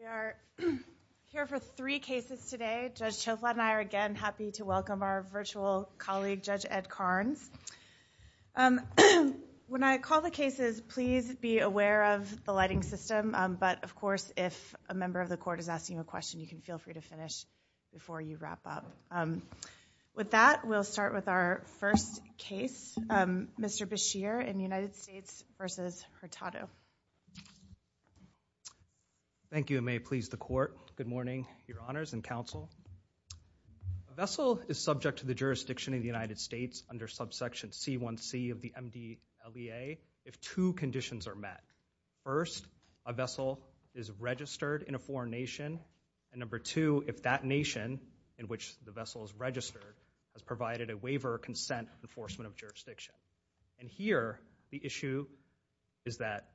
We are here for three cases today. Judge Choflat and I are again happy to welcome our virtual colleague Judge Ed Carnes. When I call the cases, please be aware of the lighting system. But of course, if a member of the court is asking a question, you can feel free to finish before you wrap up. With that, we'll start with our first case, Mr. Bashir in the United States. Thank you, and may it please the court. Good morning, your honors and counsel. A vessel is subject to the jurisdiction of the United States under subsection C1C of the MDLEA if two conditions are met. First, a vessel is registered in a foreign nation, and number two, if that nation in which the vessel is registered has provided a waiver or consent to enforcement of jurisdiction. And here, the issue is that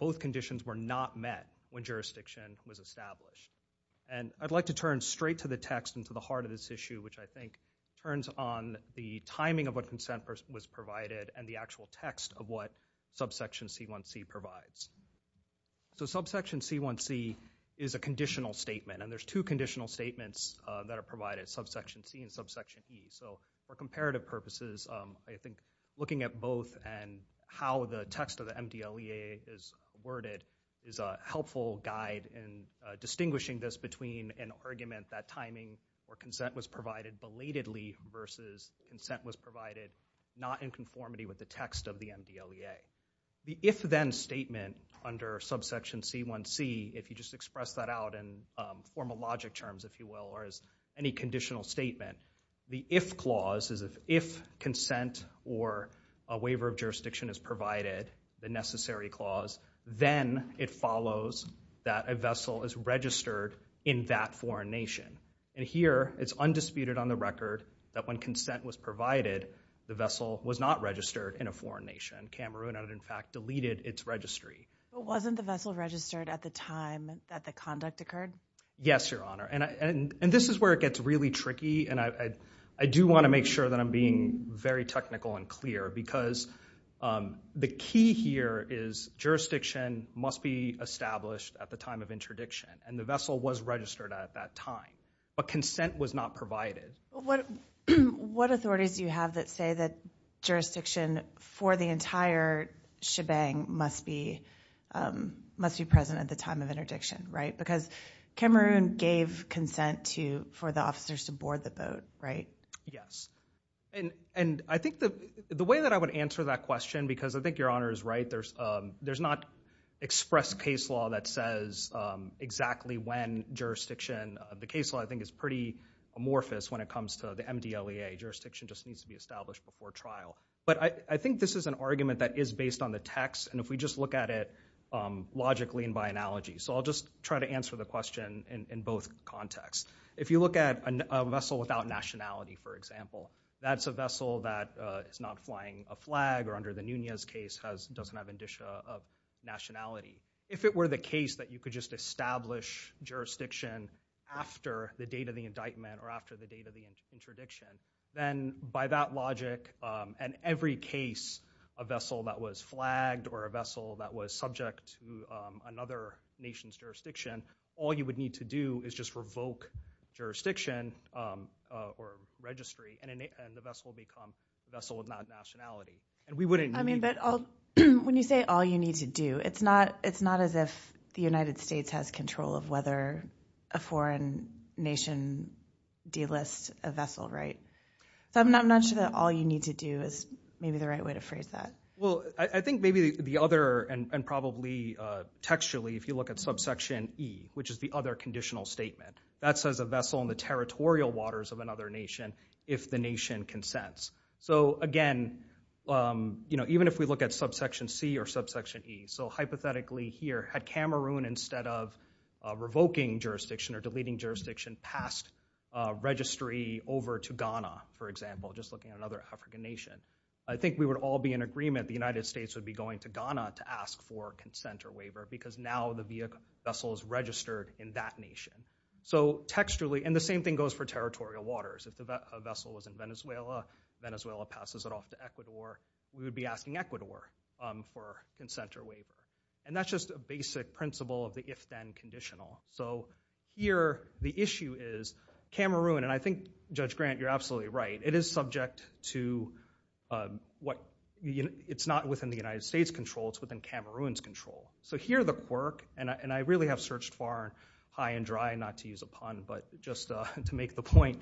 both conditions were not met when jurisdiction was established. And I'd like to turn straight to the text and to the heart of this issue, which I think turns on the timing of what consent was provided and the actual text of what subsection C1C provides. So subsection C1C is a conditional statement, and there's two conditional statements that provide it, subsection C and subsection E. So for comparative purposes, I think looking at both and how the text of the MDLEA is worded is a helpful guide in distinguishing this between an argument that timing or consent was provided belatedly versus consent was provided not in conformity with the text of the MDLEA. The if-then statement under subsection C1C, if you just express that out in formal logic terms, if you will, or as any conditional statement, the if-clause is if consent or a waiver of jurisdiction is provided, the necessary clause, then it follows that a vessel is registered in that foreign nation. And here, it's undisputed on the record that when consent was provided, the vessel was not registered in a foreign nation. Cameroon had, in fact, deleted its registry. But wasn't the vessel registered at the time that the conduct occurred? Yes, Your Honor, and this is where it gets really tricky, and I do want to make sure that I'm being very technical and clear because the key here is jurisdiction must be established at the time of interdiction, and the vessel was registered at that time, but consent was not provided. What authorities do you have that say that the entire shebang must be present at the time of interdiction, right? Because Cameroon gave consent for the officers to board the boat, right? Yes, and I think the way that I would answer that question, because I think Your Honor is right, there's not expressed case law that says exactly when jurisdiction, the case law I think is pretty amorphous when it comes to the MDLEA, jurisdiction just needs to be an argument that is based on the text, and if we just look at it logically and by analogy. So I'll just try to answer the question in both contexts. If you look at a vessel without nationality, for example, that's a vessel that is not flying a flag or under the Nunez case doesn't have indicia of nationality. If it were the case that you could just establish jurisdiction after the date of the indictment or after the date of the interdiction, then by that logic, in every case a vessel that was flagged or a vessel that was subject to another nation's jurisdiction, all you would need to do is just revoke jurisdiction or registry and the vessel would become a vessel without nationality. I mean, but when you say all you need to do, it's not as if the United States has control of whether a foreign nation delists a vessel, right? So I'm not sure that all you need to do is maybe the right way to phrase that. Well, I think maybe the other, and probably textually, if you look at subsection E, which is the other conditional statement, that says a vessel in the territorial waters of another nation if the nation consents. So again, even if we look at subsection C or subsection E, so hypothetically here, had Cameroon instead of revoking jurisdiction or deleting jurisdiction passed registry over to Ghana, for example, just looking at another African nation, I think we would all be in agreement the United States would be going to Ghana to ask for consent or waiver because now the vessel is registered in that nation. So textually, and the same thing goes for territorial waters. If a vessel was in Venezuela, Venezuela passes it off to Ecuador, we would be asking Ecuador for consent or waiver. And that's just a basic principle of the if-then conditional. So here, the issue is Cameroon, and I think Judge Grant, you're absolutely right, it is subject to what, it's not within the United States' control, it's within Cameroon's control. So here the quirk, and I really have searched far and high and dry, not to use a pun, but just to make the point,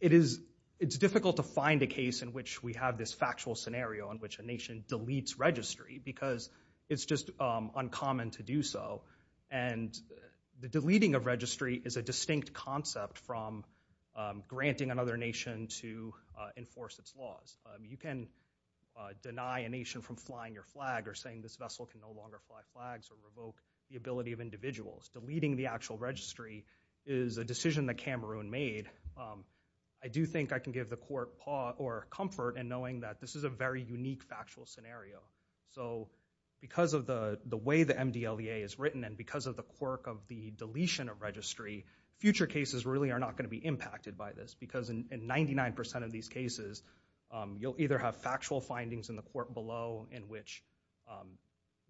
it is, it's difficult to find a case in which we have this factual scenario in which a nation deletes registry because it's just uncommon to do so. And the deleting of registry is a distinct concept from granting another nation to enforce its laws. You can deny a nation from flying your flag or saying this vessel can no longer fly the flag of individuals. Deleting the actual registry is a decision that Cameroon made. I do think I can give the court comfort in knowing that this is a very unique factual scenario. So because of the way the MDLEA is written and because of the quirk of the deletion of registry, future cases really are not going to be impacted by this because in 99% of these cases, you'll either have factual findings in the court below in which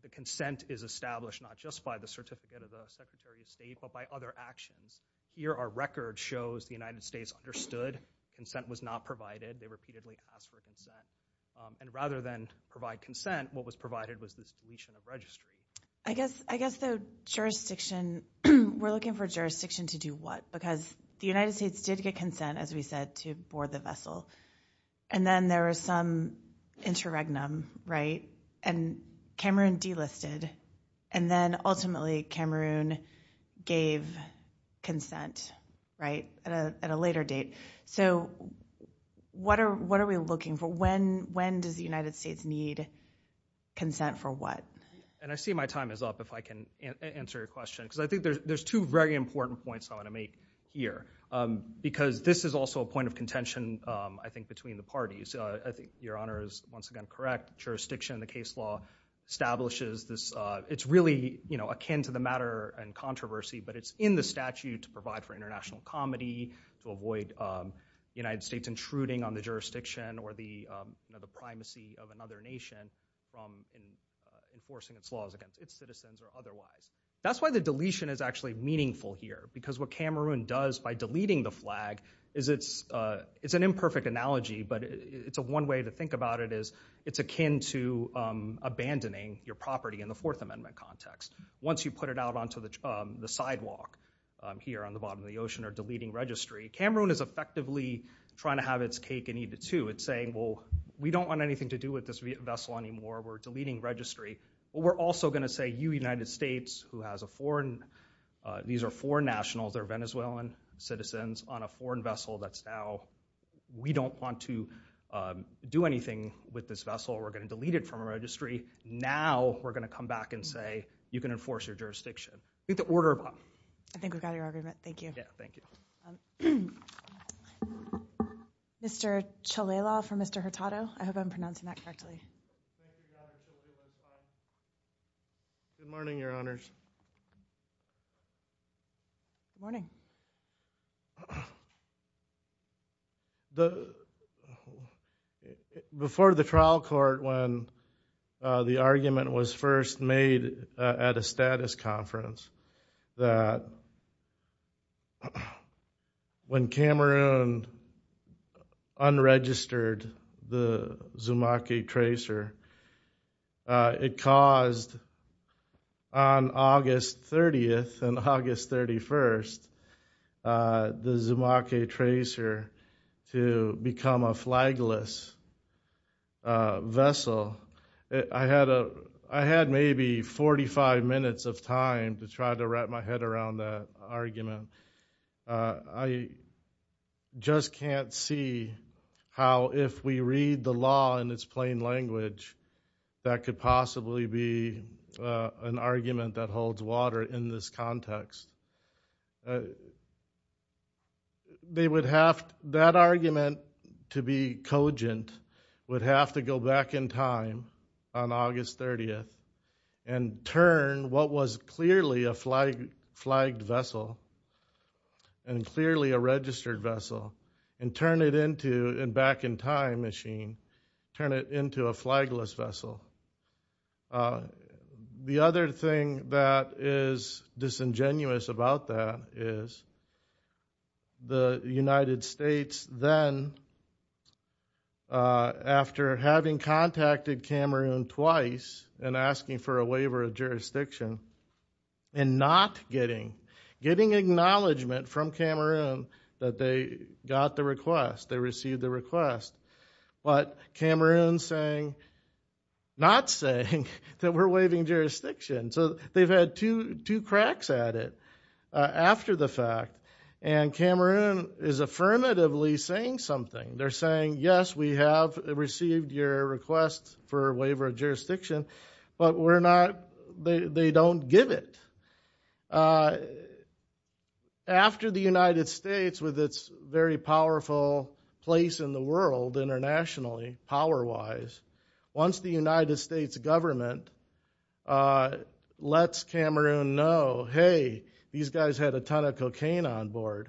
the consent is established not just by the certificate of the Secretary of State, but by other actions. Here our record shows the United States understood consent was not provided. They repeatedly asked for consent. And rather than provide consent, what was provided was this deletion of registry. I guess the jurisdiction, we're looking for jurisdiction to do what? Because the United States did get consent, as we said, to board the vessel. And then there was some interregnum, right? And Cameroon delisted. And then ultimately Cameroon gave consent, right, at a later date. So what are we looking for? When does the United States need consent for what? And I see my time is up, if I can answer your question. Because I think there's two very important points I want to make here. Because this is also a point of contention, I think, between the parties. I think your Honor is, once again, correct. Jurisdiction in the case law establishes this. It's really akin to the matter and controversy, but it's in the statute to provide for international comity, to avoid the United States intruding on the jurisdiction or the primacy of another nation from enforcing its laws against its citizens or otherwise. That's why the deletion is actually meaningful here. Because what Cameroon does by deleting the flag is an imperfect analogy, but one way to think about it is it's akin to abandoning your property in the Fourth Amendment context. Once you put it out onto the sidewalk here on the bottom of the ocean or deleting registry, Cameroon is effectively trying to have its cake and eat it too. It's saying, well, we don't want anything to do with this vessel anymore. We're deleting registry. But we're also going to say, you United States, who on a foreign vessel that's now, we don't want to do anything with this vessel. We're going to delete it from our registry. Now we're going to come back and say, you can enforce your jurisdiction. I think we've got your argument. Thank you. Yeah, thank you. Mr. Chalela for Mr. Hurtado. I hope I'm pronouncing that correctly. Good morning, Your Honors. Good morning. Before the trial court, when the argument was first made at a status conference, that when Cameroon unregistered the Zumaque tracer, it caused on August 30th and August 31st, the Zumaque tracer to become a flagless vessel. I had maybe 45 minutes of time to try to wrap my head around that argument. I just can't see how, if we read the law in its plain language, that could possibly be an argument that holds water in this context. They would have, that argument to be cogent would have to go back in time on August 30th and turn what was clearly a flagged vessel and clearly a registered vessel and turn it into a back-in-time machine, turn it into a flagless vessel. The other thing that is disingenuous about that is the United States then, after having and not getting, getting acknowledgment from Cameroon that they got the request, they received the request, but Cameroon's not saying that we're waiving jurisdiction. They've had two cracks at it after the fact. Cameroon is affirmatively saying something. They're saying, yes, we have received your request for waiver of jurisdiction, but we're not, they don't give it. After the United States, with its very powerful place in the world internationally, power-wise, once the United States government lets Cameroon know, hey, these guys had a ton of cocaine on board,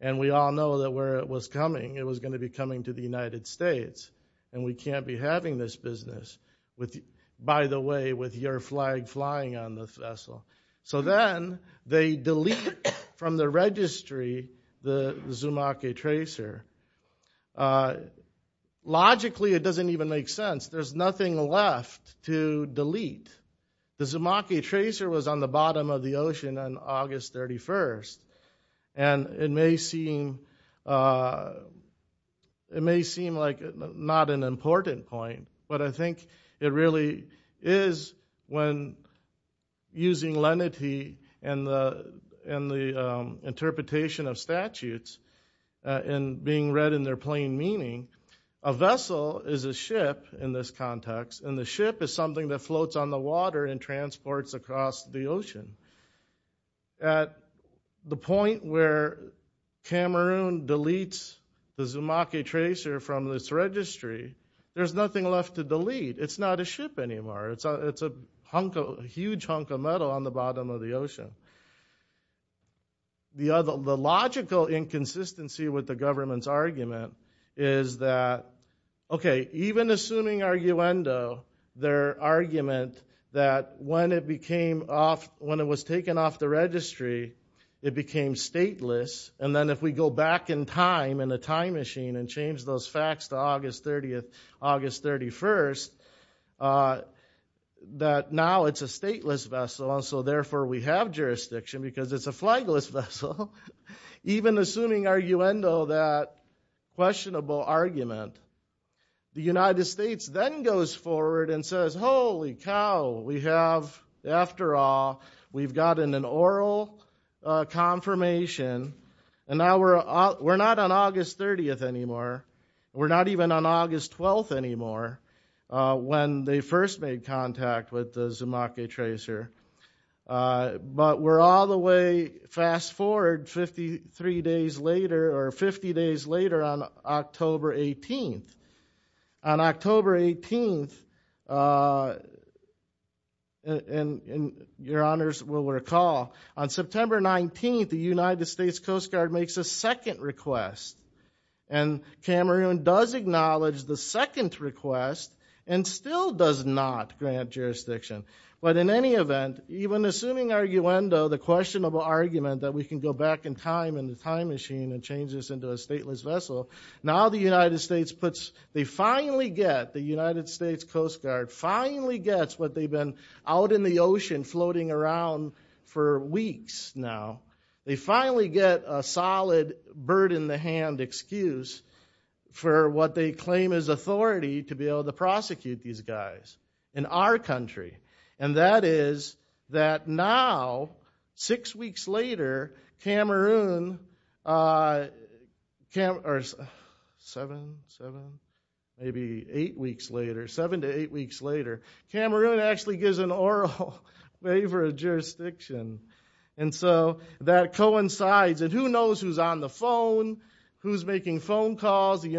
and we all know that where it was coming, it was going to be coming to the United States, and we can't be having this business, by the way, with your flag flying on the vessel. So then they delete from the registry the Zumake Tracer. Logically, it doesn't even make sense. There's nothing left to delete. The Zumake Tracer was on the bottom of the list, and it may seem like not an important point, but I think it really is when using lenity and the interpretation of statutes and being read in their plain meaning. A vessel is a ship in this context, and the ship is something that floats on the water and transports across the ocean. At the point where Cameroon deletes the Zumake Tracer from this registry, there's nothing left to delete. It's not a ship anymore. It's a huge hunk of metal on the bottom of the ocean. The logical inconsistency with the government's argument is that, okay, even assuming arguendo, their argument that when it was taken off the registry, it became stateless, and then if we go back in time in the time machine and change those facts to August 30th, August 31st, that now it's a stateless vessel, and so therefore we have jurisdiction because it's a flagless vessel. Even assuming arguendo, that questionable argument, the United States then goes forward and says, holy cow, we have, after all, we've gotten an oral confirmation, and now we're not on August 30th anymore. We're not even on August 12th anymore, when they first made contact with the Zumake Tracer. But we're all the way, fast forward 53 days later, or 50 days later, on October 18th. On October 18th, and your honors will recall, on September 19th, the United States Coast Guard makes a second request, and Cameroon does acknowledge the second request and still does not grant jurisdiction. But in any event, even assuming arguendo, the questionable argument that we can go back in time in the time machine and change this into a stateless vessel, now the United States puts, they finally get, the United States Coast Guard finally gets what they've been out in the ocean floating around for weeks now. They finally get a solid, bird in the hand excuse for what they claim is authority to be able to prosecute these guys. In our country. And that is that now, six weeks later, Cameroon, or seven, maybe eight weeks later, seven to eight weeks later, Cameroon actually gives an oral waiver of jurisdiction. And so that coincides, and who knows who's on the phone, who's making phone calls, the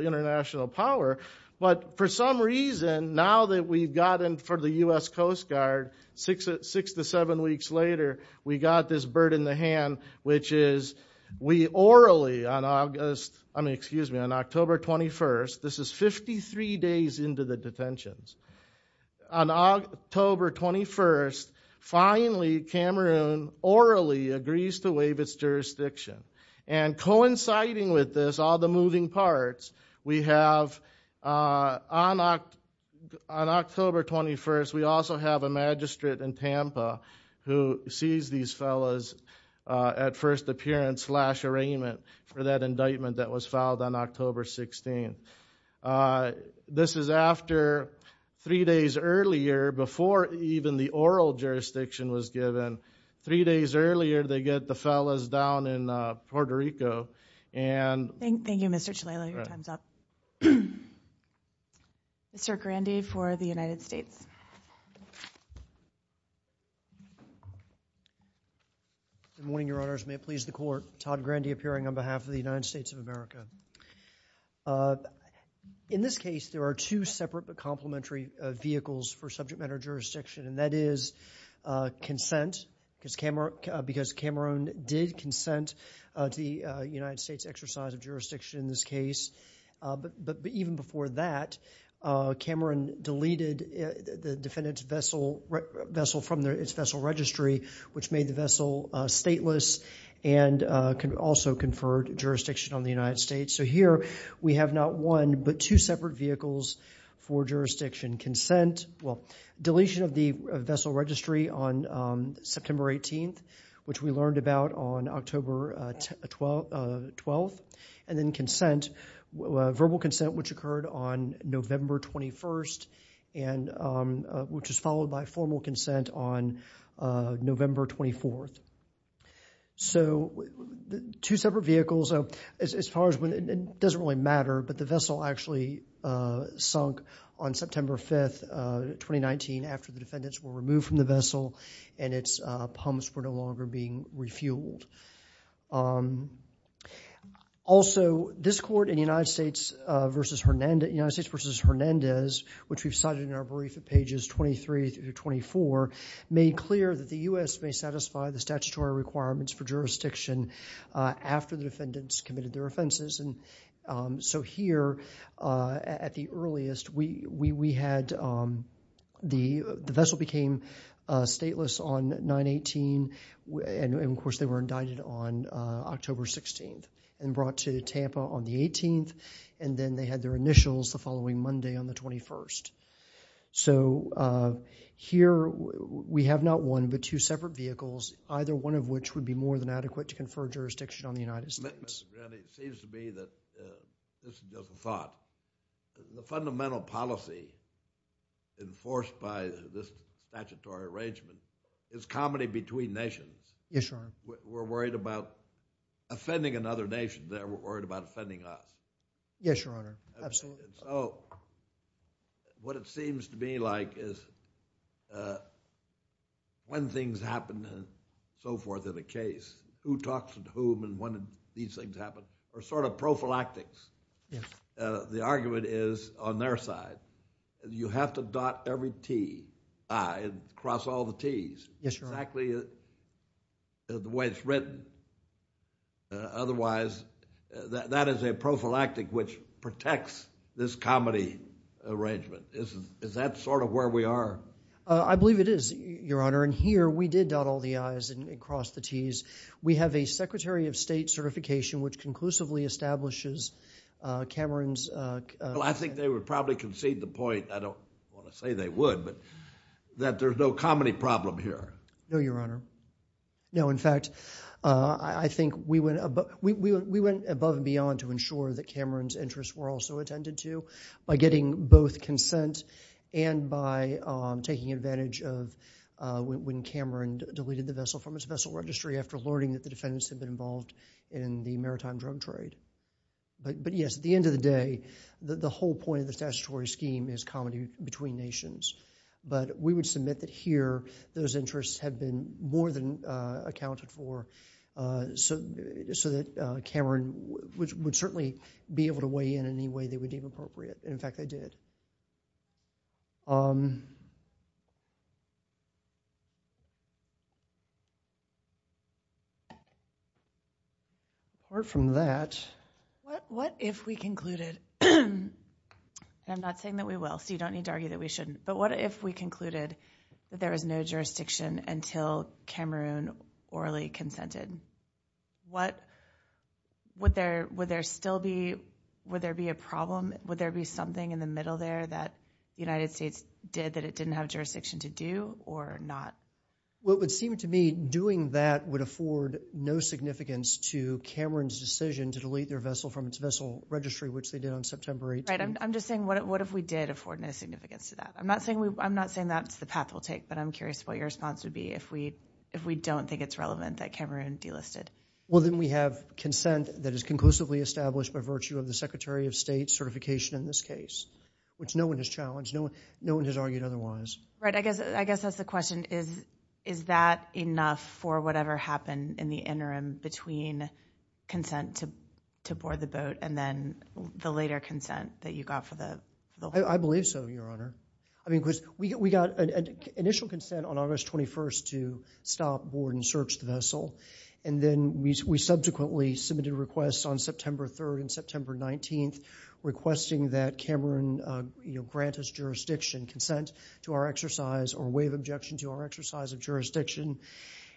international power. But for some reason, now that we've gotten, for the U.S. Coast Guard, six to seven weeks later, we got this bird in the hand, which is, we orally, on August, I mean, excuse me, on October 21st, this is 53 days into the detentions. On October 21st, finally, Cameroon orally agrees to waive its jurisdiction. And coinciding with this, all the moving parts, we have, on October 21st, we also have a magistrate in Tampa who sees these fellas at first appearance slash arraignment for that indictment that was filed on October 16th. This is after three days earlier, before even the oral jurisdiction was given. Three days earlier, they get the fellas down in Puerto Rico, and- Thank you, Mr. Chalala. Your time's up. Mr. Grandy for the United States. Good morning, Your Honors. May it please the Court, Todd Grandy appearing on behalf of the United States of America. In this case, there are two separate but complementary vehicles for subject matter jurisdiction, and that is consent, because Cameroon did consent to the United States' exercise of jurisdiction in this case. But even before that, Cameroon deleted the defendant's vessel from its vessel registry, which made the vessel stateless and also conferred jurisdiction on the United States. So here, we have not one but two separate vehicles for jurisdiction consent. Well, deletion of the vessel registry on September 18th, which we learned about on October 12th, and then consent, verbal consent, which occurred on November 21st, which is followed by formal consent on November 24th. So two separate vehicles, as far as when it doesn't really matter, but the vessel actually sunk on September 5th, 2019, after the defendants were removed from the vessel and its pumps were no longer being refueled. Also, this Court in United States v. Hernandez, which we've cited in our brief at pages 23 through 24, made clear that the U.S. may satisfy the statutory requirements for jurisdiction after the defendants committed their offenses. And so here, at the earliest, we had the vessel became stateless on 9-18, and of course, they were indicted on October 16th and brought to Tampa on the 18th, and then they had their initials the following Monday on the 21st. So here, we have not one but two separate vehicles, either one of which would be more than adequate to confer jurisdiction on the United States. Your Honor, it seems to me that this is just a thought. The fundamental policy enforced by this statutory arrangement is comedy between nations. We're worried about offending another nation. They're worried about offending us. Yes, Your Honor, absolutely. And so what it seems to me like is when things happen and so forth in a case, who talks to whom and when these things happen are sort of prophylactics. The argument is on their side, you have to dot every T, I, across all the T's, exactly the way it's written. Otherwise, that is a prophylactic which protects this comedy arrangement. Is that sort of where we are? I believe it is, Your Honor. And here, we did dot all the I's and cross the T's. We have a Secretary of State certification which conclusively establishes Cameron's... Well, I think they would probably concede the point, I don't want to say they would, but that there's no comedy problem here. No, Your Honor. No, in fact, I think we went above and beyond to ensure that Cameron's consent and by taking advantage of when Cameron deleted the vessel from his vessel registry after learning that the defendants had been involved in the maritime drug trade. But yes, at the end of the day, the whole point of the statutory scheme is comedy between nations. But we would submit that here, those interests had been more than accounted for so that Cameron would certainly be able to weigh in any way they would deem appropriate. In fact, they did. Apart from that... What if we concluded... And I'm not saying that we will, so you don't need to argue that we shouldn't. But what if we concluded that there is no jurisdiction until Cameron orally consented? Would there still be... Would there be something in the middle there that the United States did that it didn't have jurisdiction to do or not? What would seem to me doing that would afford no significance to Cameron's decision to delete their vessel from its vessel registry, which they did on September 18th. I'm just saying, what if we did afford no significance to that? I'm not saying that's the path we'll take, but I'm curious what your response would be if we don't think it's relevant that Cameron delisted. Well, then we have consent that is conclusively established by virtue of the Secretary of State certification in this case, which no one has challenged. No one has argued otherwise. Right. I guess that's the question. Is that enough for whatever happened in the interim between consent to board the boat and then the later consent that you got for the... I believe so, Your Honor. I mean, because we got initial consent on August 21st to stop, board, and search the vessel. And then we subsequently submitted requests on September 3rd and September 19th requesting that Cameron grant us jurisdiction, consent to our exercise or waive objection to our exercise of jurisdiction.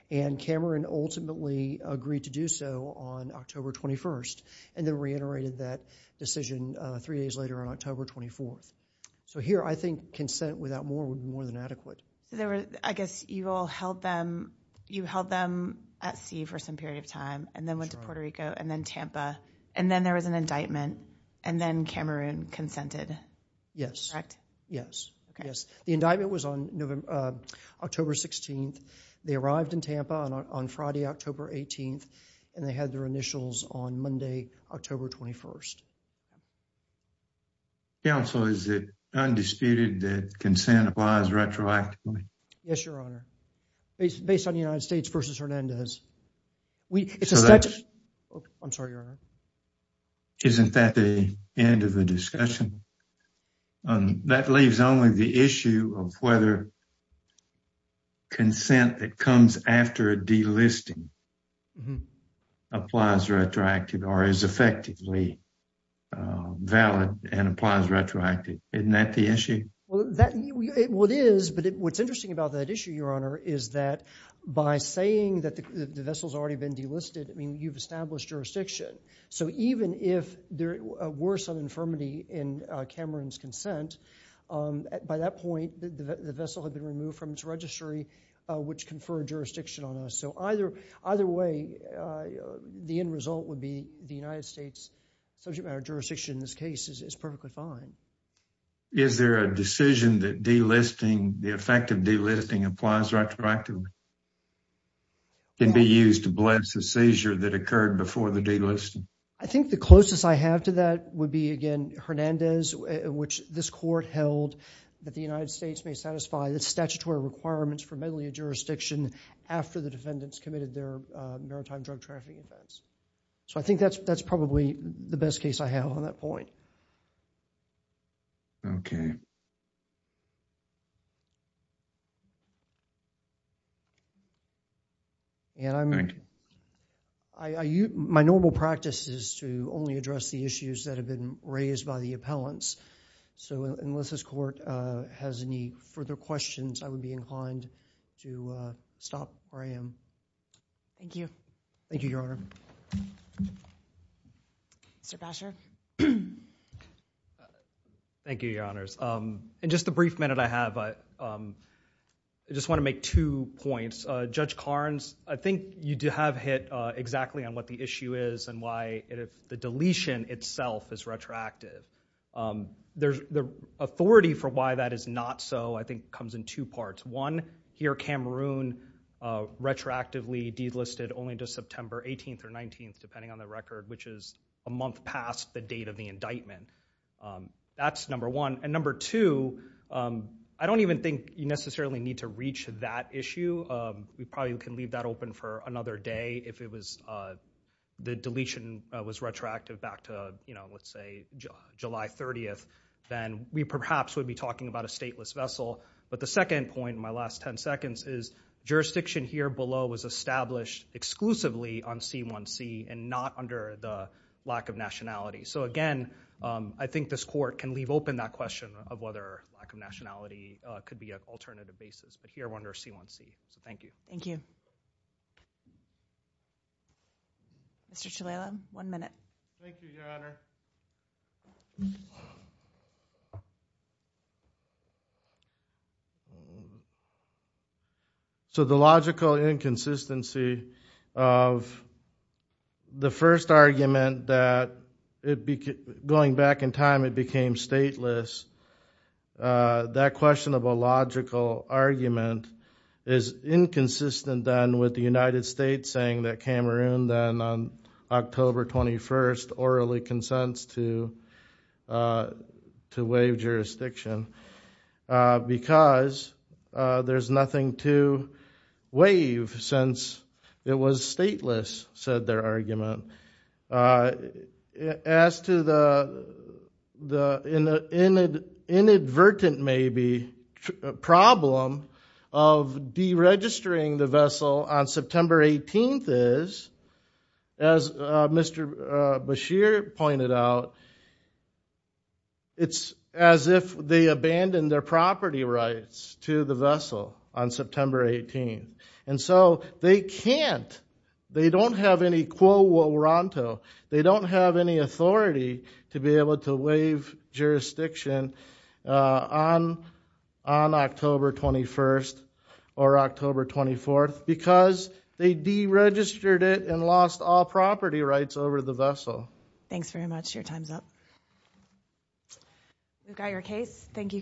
And Cameron ultimately agreed to do so on October 21st and then reiterated that decision three days later on October 24th. So here, I think consent without more would be more than adequate. So I guess you all held them at sea for some period of time and then went to Puerto Rico and then Tampa, and then there was an indictment, and then Cameron consented. Yes. Yes. Yes. The indictment was on October 16th. They arrived in Tampa on Friday, October 18th, and they had their initials on Monday, October 21st. Counsel, is it undisputed that consent applies retroactively? Yes, Your Honor. Based on the United States versus Hernandez. We, it's a statute. I'm sorry, Your Honor. Isn't that the end of the discussion? That leaves only the issue of whether consent that comes after a delisting applies retroactively or is effectively valid and applies retroactively. Isn't that the issue? Well, that, what is, but what's interesting about that issue, Your Honor, is that by saying that the vessel's already been delisted, I mean, you've established jurisdiction. So even if there were some infirmity in Cameron's consent, by that point, the vessel had been removed from its registry, which conferred jurisdiction on us. So either, either way, the end result would be the United States subject matter jurisdiction in this case is perfectly fine. Is there a decision that delisting, the effect of delisting applies retroactively? Can be used to bless the seizure that occurred before the delisting? I think the closest I have to that would be, again, Hernandez, which this court held that the United States may satisfy the statutory requirements for meddling in jurisdiction after the defendants committed their maritime drug trafficking offense. So I think that's, that's probably the best case I have on that point. Okay. And I'm, I, I, you, my normal practice is to only address the issues that have been raised by the appellants. So unless this court has any further questions, I would be inclined to stop where I am. Thank you. Thank you, Your Honor. Mr. Basher. Thank you, Your Honors. In just the brief minute I have, I just want to make two points. Judge Carnes, I think you do have hit exactly on what the issue is and why the deletion itself is retroactive. There's the authority for why that is not so, I think comes in two parts. One, here Cameroon retroactively delisted only to September 18th or 19th, depending on the record, which is a month past the date of the indictment. That's number one. And number two, I don't even think you necessarily need to reach that issue. We probably can leave that open for another day if it was, the deletion was retroactive back to, you know, let's say July 30th, then we perhaps would be talking about a stateless vessel. But the second point, my last 10 seconds, is jurisdiction here below was established exclusively on C1C and not under the lack of nationality. So again, I think this court can leave open that question of whether lack of nationality could be an alternative basis, but here under C1C. So thank you. Thank you. Mr. Chalala, one minute. Thank you, Your Honor. So the logical inconsistency of the first argument that going back in time it became stateless, that question of a logical argument is inconsistent then with the United States saying that Cameroon then on October 21st orally consents to to waive jurisdiction because there's nothing to waive since it was stateless, said their argument. As to the inadvertent maybe problem of deregistering the vessel on September 18th is, as Mr. Bashir pointed out, it's as if they abandoned their property rights to the vessel on September 18th. And so they can't, they don't have any quo warranto, they don't have any authority to be able to waive jurisdiction on October 21st or October 24th because they deregistered it and lost all property rights over the vessel. Thanks very much. Your time's up. We've got your case. Thank you, counsel.